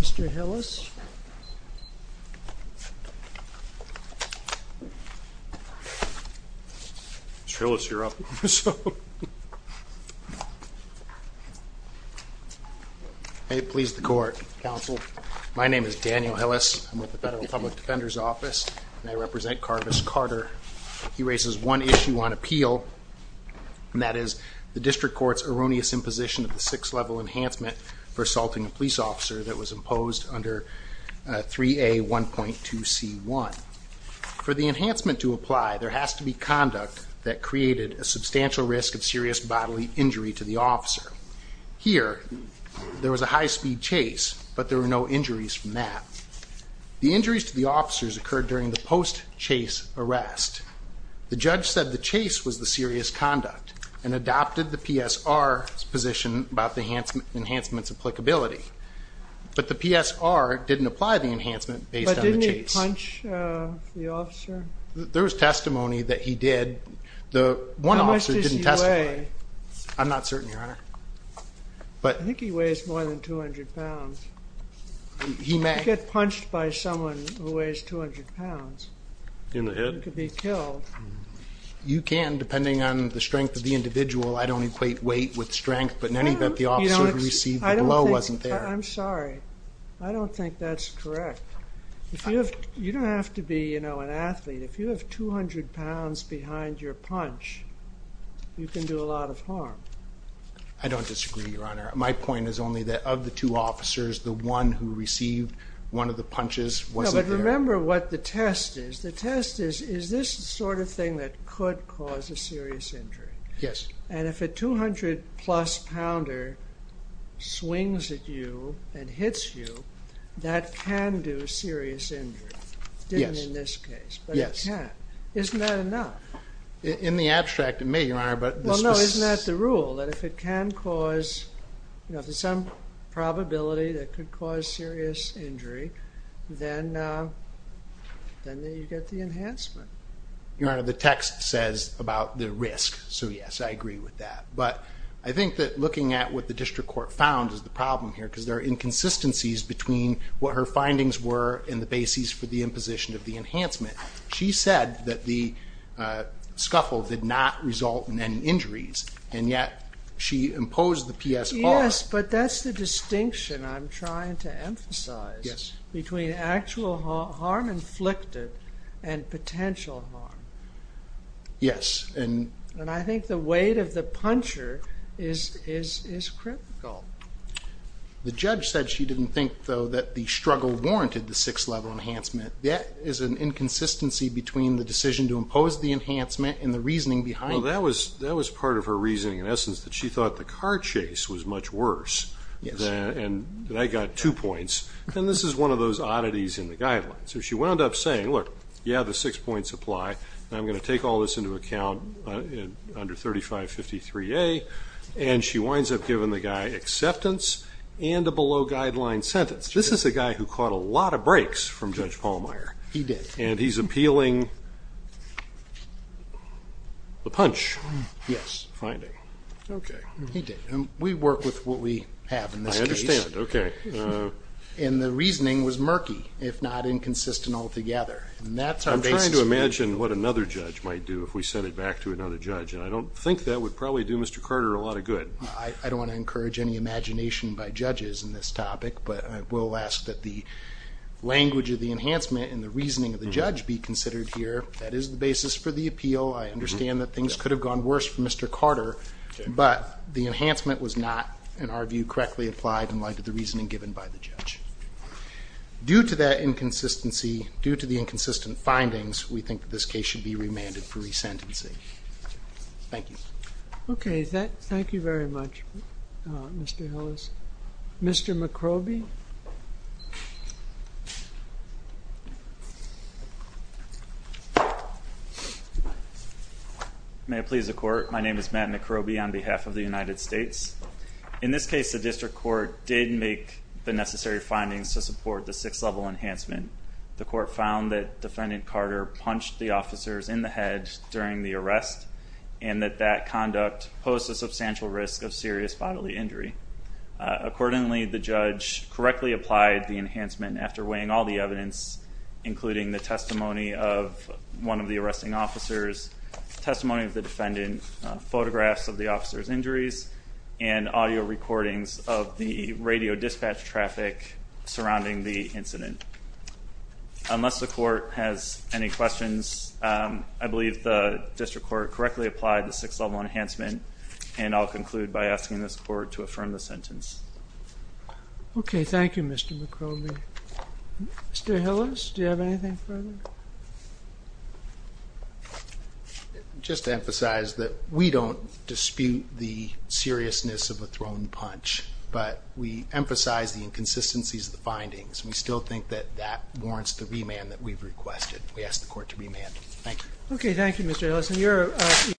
Mr. Hillis. Mr. Hillis, you're up. I please the court, counsel. My name is Daniel Hillis. I'm with the Federal Public Defender's Office and I represent Karvis Carter. He raises one issue on appeal and that is the district court's erroneous imposition of the six-level enhancement for assaulting a police officer that was imposed under 3A 1.2c1. For the enhancement to apply, there has to be conduct that created a substantial risk of serious bodily injury to the officer. Here, there was a high-speed chase but there were no injuries from that. The injuries to the officers occurred during the post-chase arrest. The judge said the enhancement's applicability. But the PSR didn't apply the enhancement based on the chase. But didn't he punch the officer? There was testimony that he did. The one officer didn't testify. How much does he weigh? I'm not certain, Your Honor. I think he weighs more than 200 pounds. He may. You could get punched by someone who weighs 200 pounds. In the head? You could be killed. You can, depending on the strength of the blow. I'm sorry. I don't think that's correct. You don't have to be an athlete. If you have 200 pounds behind your punch, you can do a lot of harm. I don't disagree, Your Honor. My point is only that of the two officers, the one who received one of the punches wasn't there. Remember what the test is. The test is, is this the sort of thing that could cause a serious injury? Yes. And if a 200 plus pounder swings at you and hits you, that can do serious injury. Yes. Didn't in this case. Yes. But it can. Isn't that enough? In the abstract, it may, Your Honor, but... Well, no. Isn't that the rule? That if it can cause, you know, if there's some probability that could cause serious injury, then you get the enhancement. Your Honor, the text says about the risk, so yes, I agree with that. But I think that looking at what the district court found is the problem here, because there are inconsistencies between what her findings were and the basis for the imposition of the enhancement. She said that the scuffle did not result in any injuries, and yet she imposed the PSR. Yes, but that's the distinction I'm trying to emphasize between actual harm inflicted and potential harm. Yes. And I think the weight of the puncher is critical. The judge said she didn't think, though, that the struggle warranted the 6th level enhancement. That is an inconsistency between the decision to impose the enhancement and the reasoning behind it. Well, that was part of her reasoning, in essence, that she thought the car chase was much worse, and that got two points. And this is one of those oddities in the guidelines. So she wound up saying, look, yeah, the six points apply, and I'm going to take all this into account under 3553A, and she winds up giving the guy acceptance and a below-guideline sentence. This is a guy who caught a lot of breaks from Judge Pallmeyer. He did. And he's appealing the punch finding. Yes. Okay. He did. And we work with what we have in this case. I understand. Okay. And the reasoning was murky, if not inconsistent altogether. I'm trying to imagine what another judge might do if we sent it back to another judge, and I don't think that would probably do Mr. Carter a lot of good. I don't want to encourage any imagination by judges in this topic, but I will ask that the language of the enhancement and the reasoning of the judge be considered here. That is the basis for the appeal. I understand that things could have gone worse for Mr. Carter, but the enhancement was not, in our view, correctly applied in light of the reasoning given by the judge. Due to that inconsistency, due to the inconsistent findings, we think that this case should be remanded for resentency. Thank you. Okay. Thank you very much, Mr. Hillis. Mr. McCroby? May it please the Court, my name is Matt McCroby on behalf of the United States. In this case, the district court did make the necessary findings to support the sixth-level enhancement. The court found that Defendant Carter punched the officers in the head during the arrest, and that that conduct posed a substantial risk of serious bodily injury. Accordingly, the judge correctly applied the enhancement after weighing all the evidence, including the testimony of one of the arresting officers, testimony of the defendant, photographs of the officers' injuries, and audio recordings of the radio dispatch traffic surrounding the incident. Unless the Court has any questions, I believe the district court correctly applied the sixth-level enhancement, and I'll conclude by asking this Court to affirm the sentence. Okay. Thank you, Mr. McCroby. Mr. Hillis, do you have anything further? Just to emphasize that we don't dispute the seriousness of a thrown punch, but we emphasize the inconsistencies of the findings. We still think that that warrants the remand that we've requested. We ask the Court to remand. Thank you. Okay. Thank you, Mr. Hillis.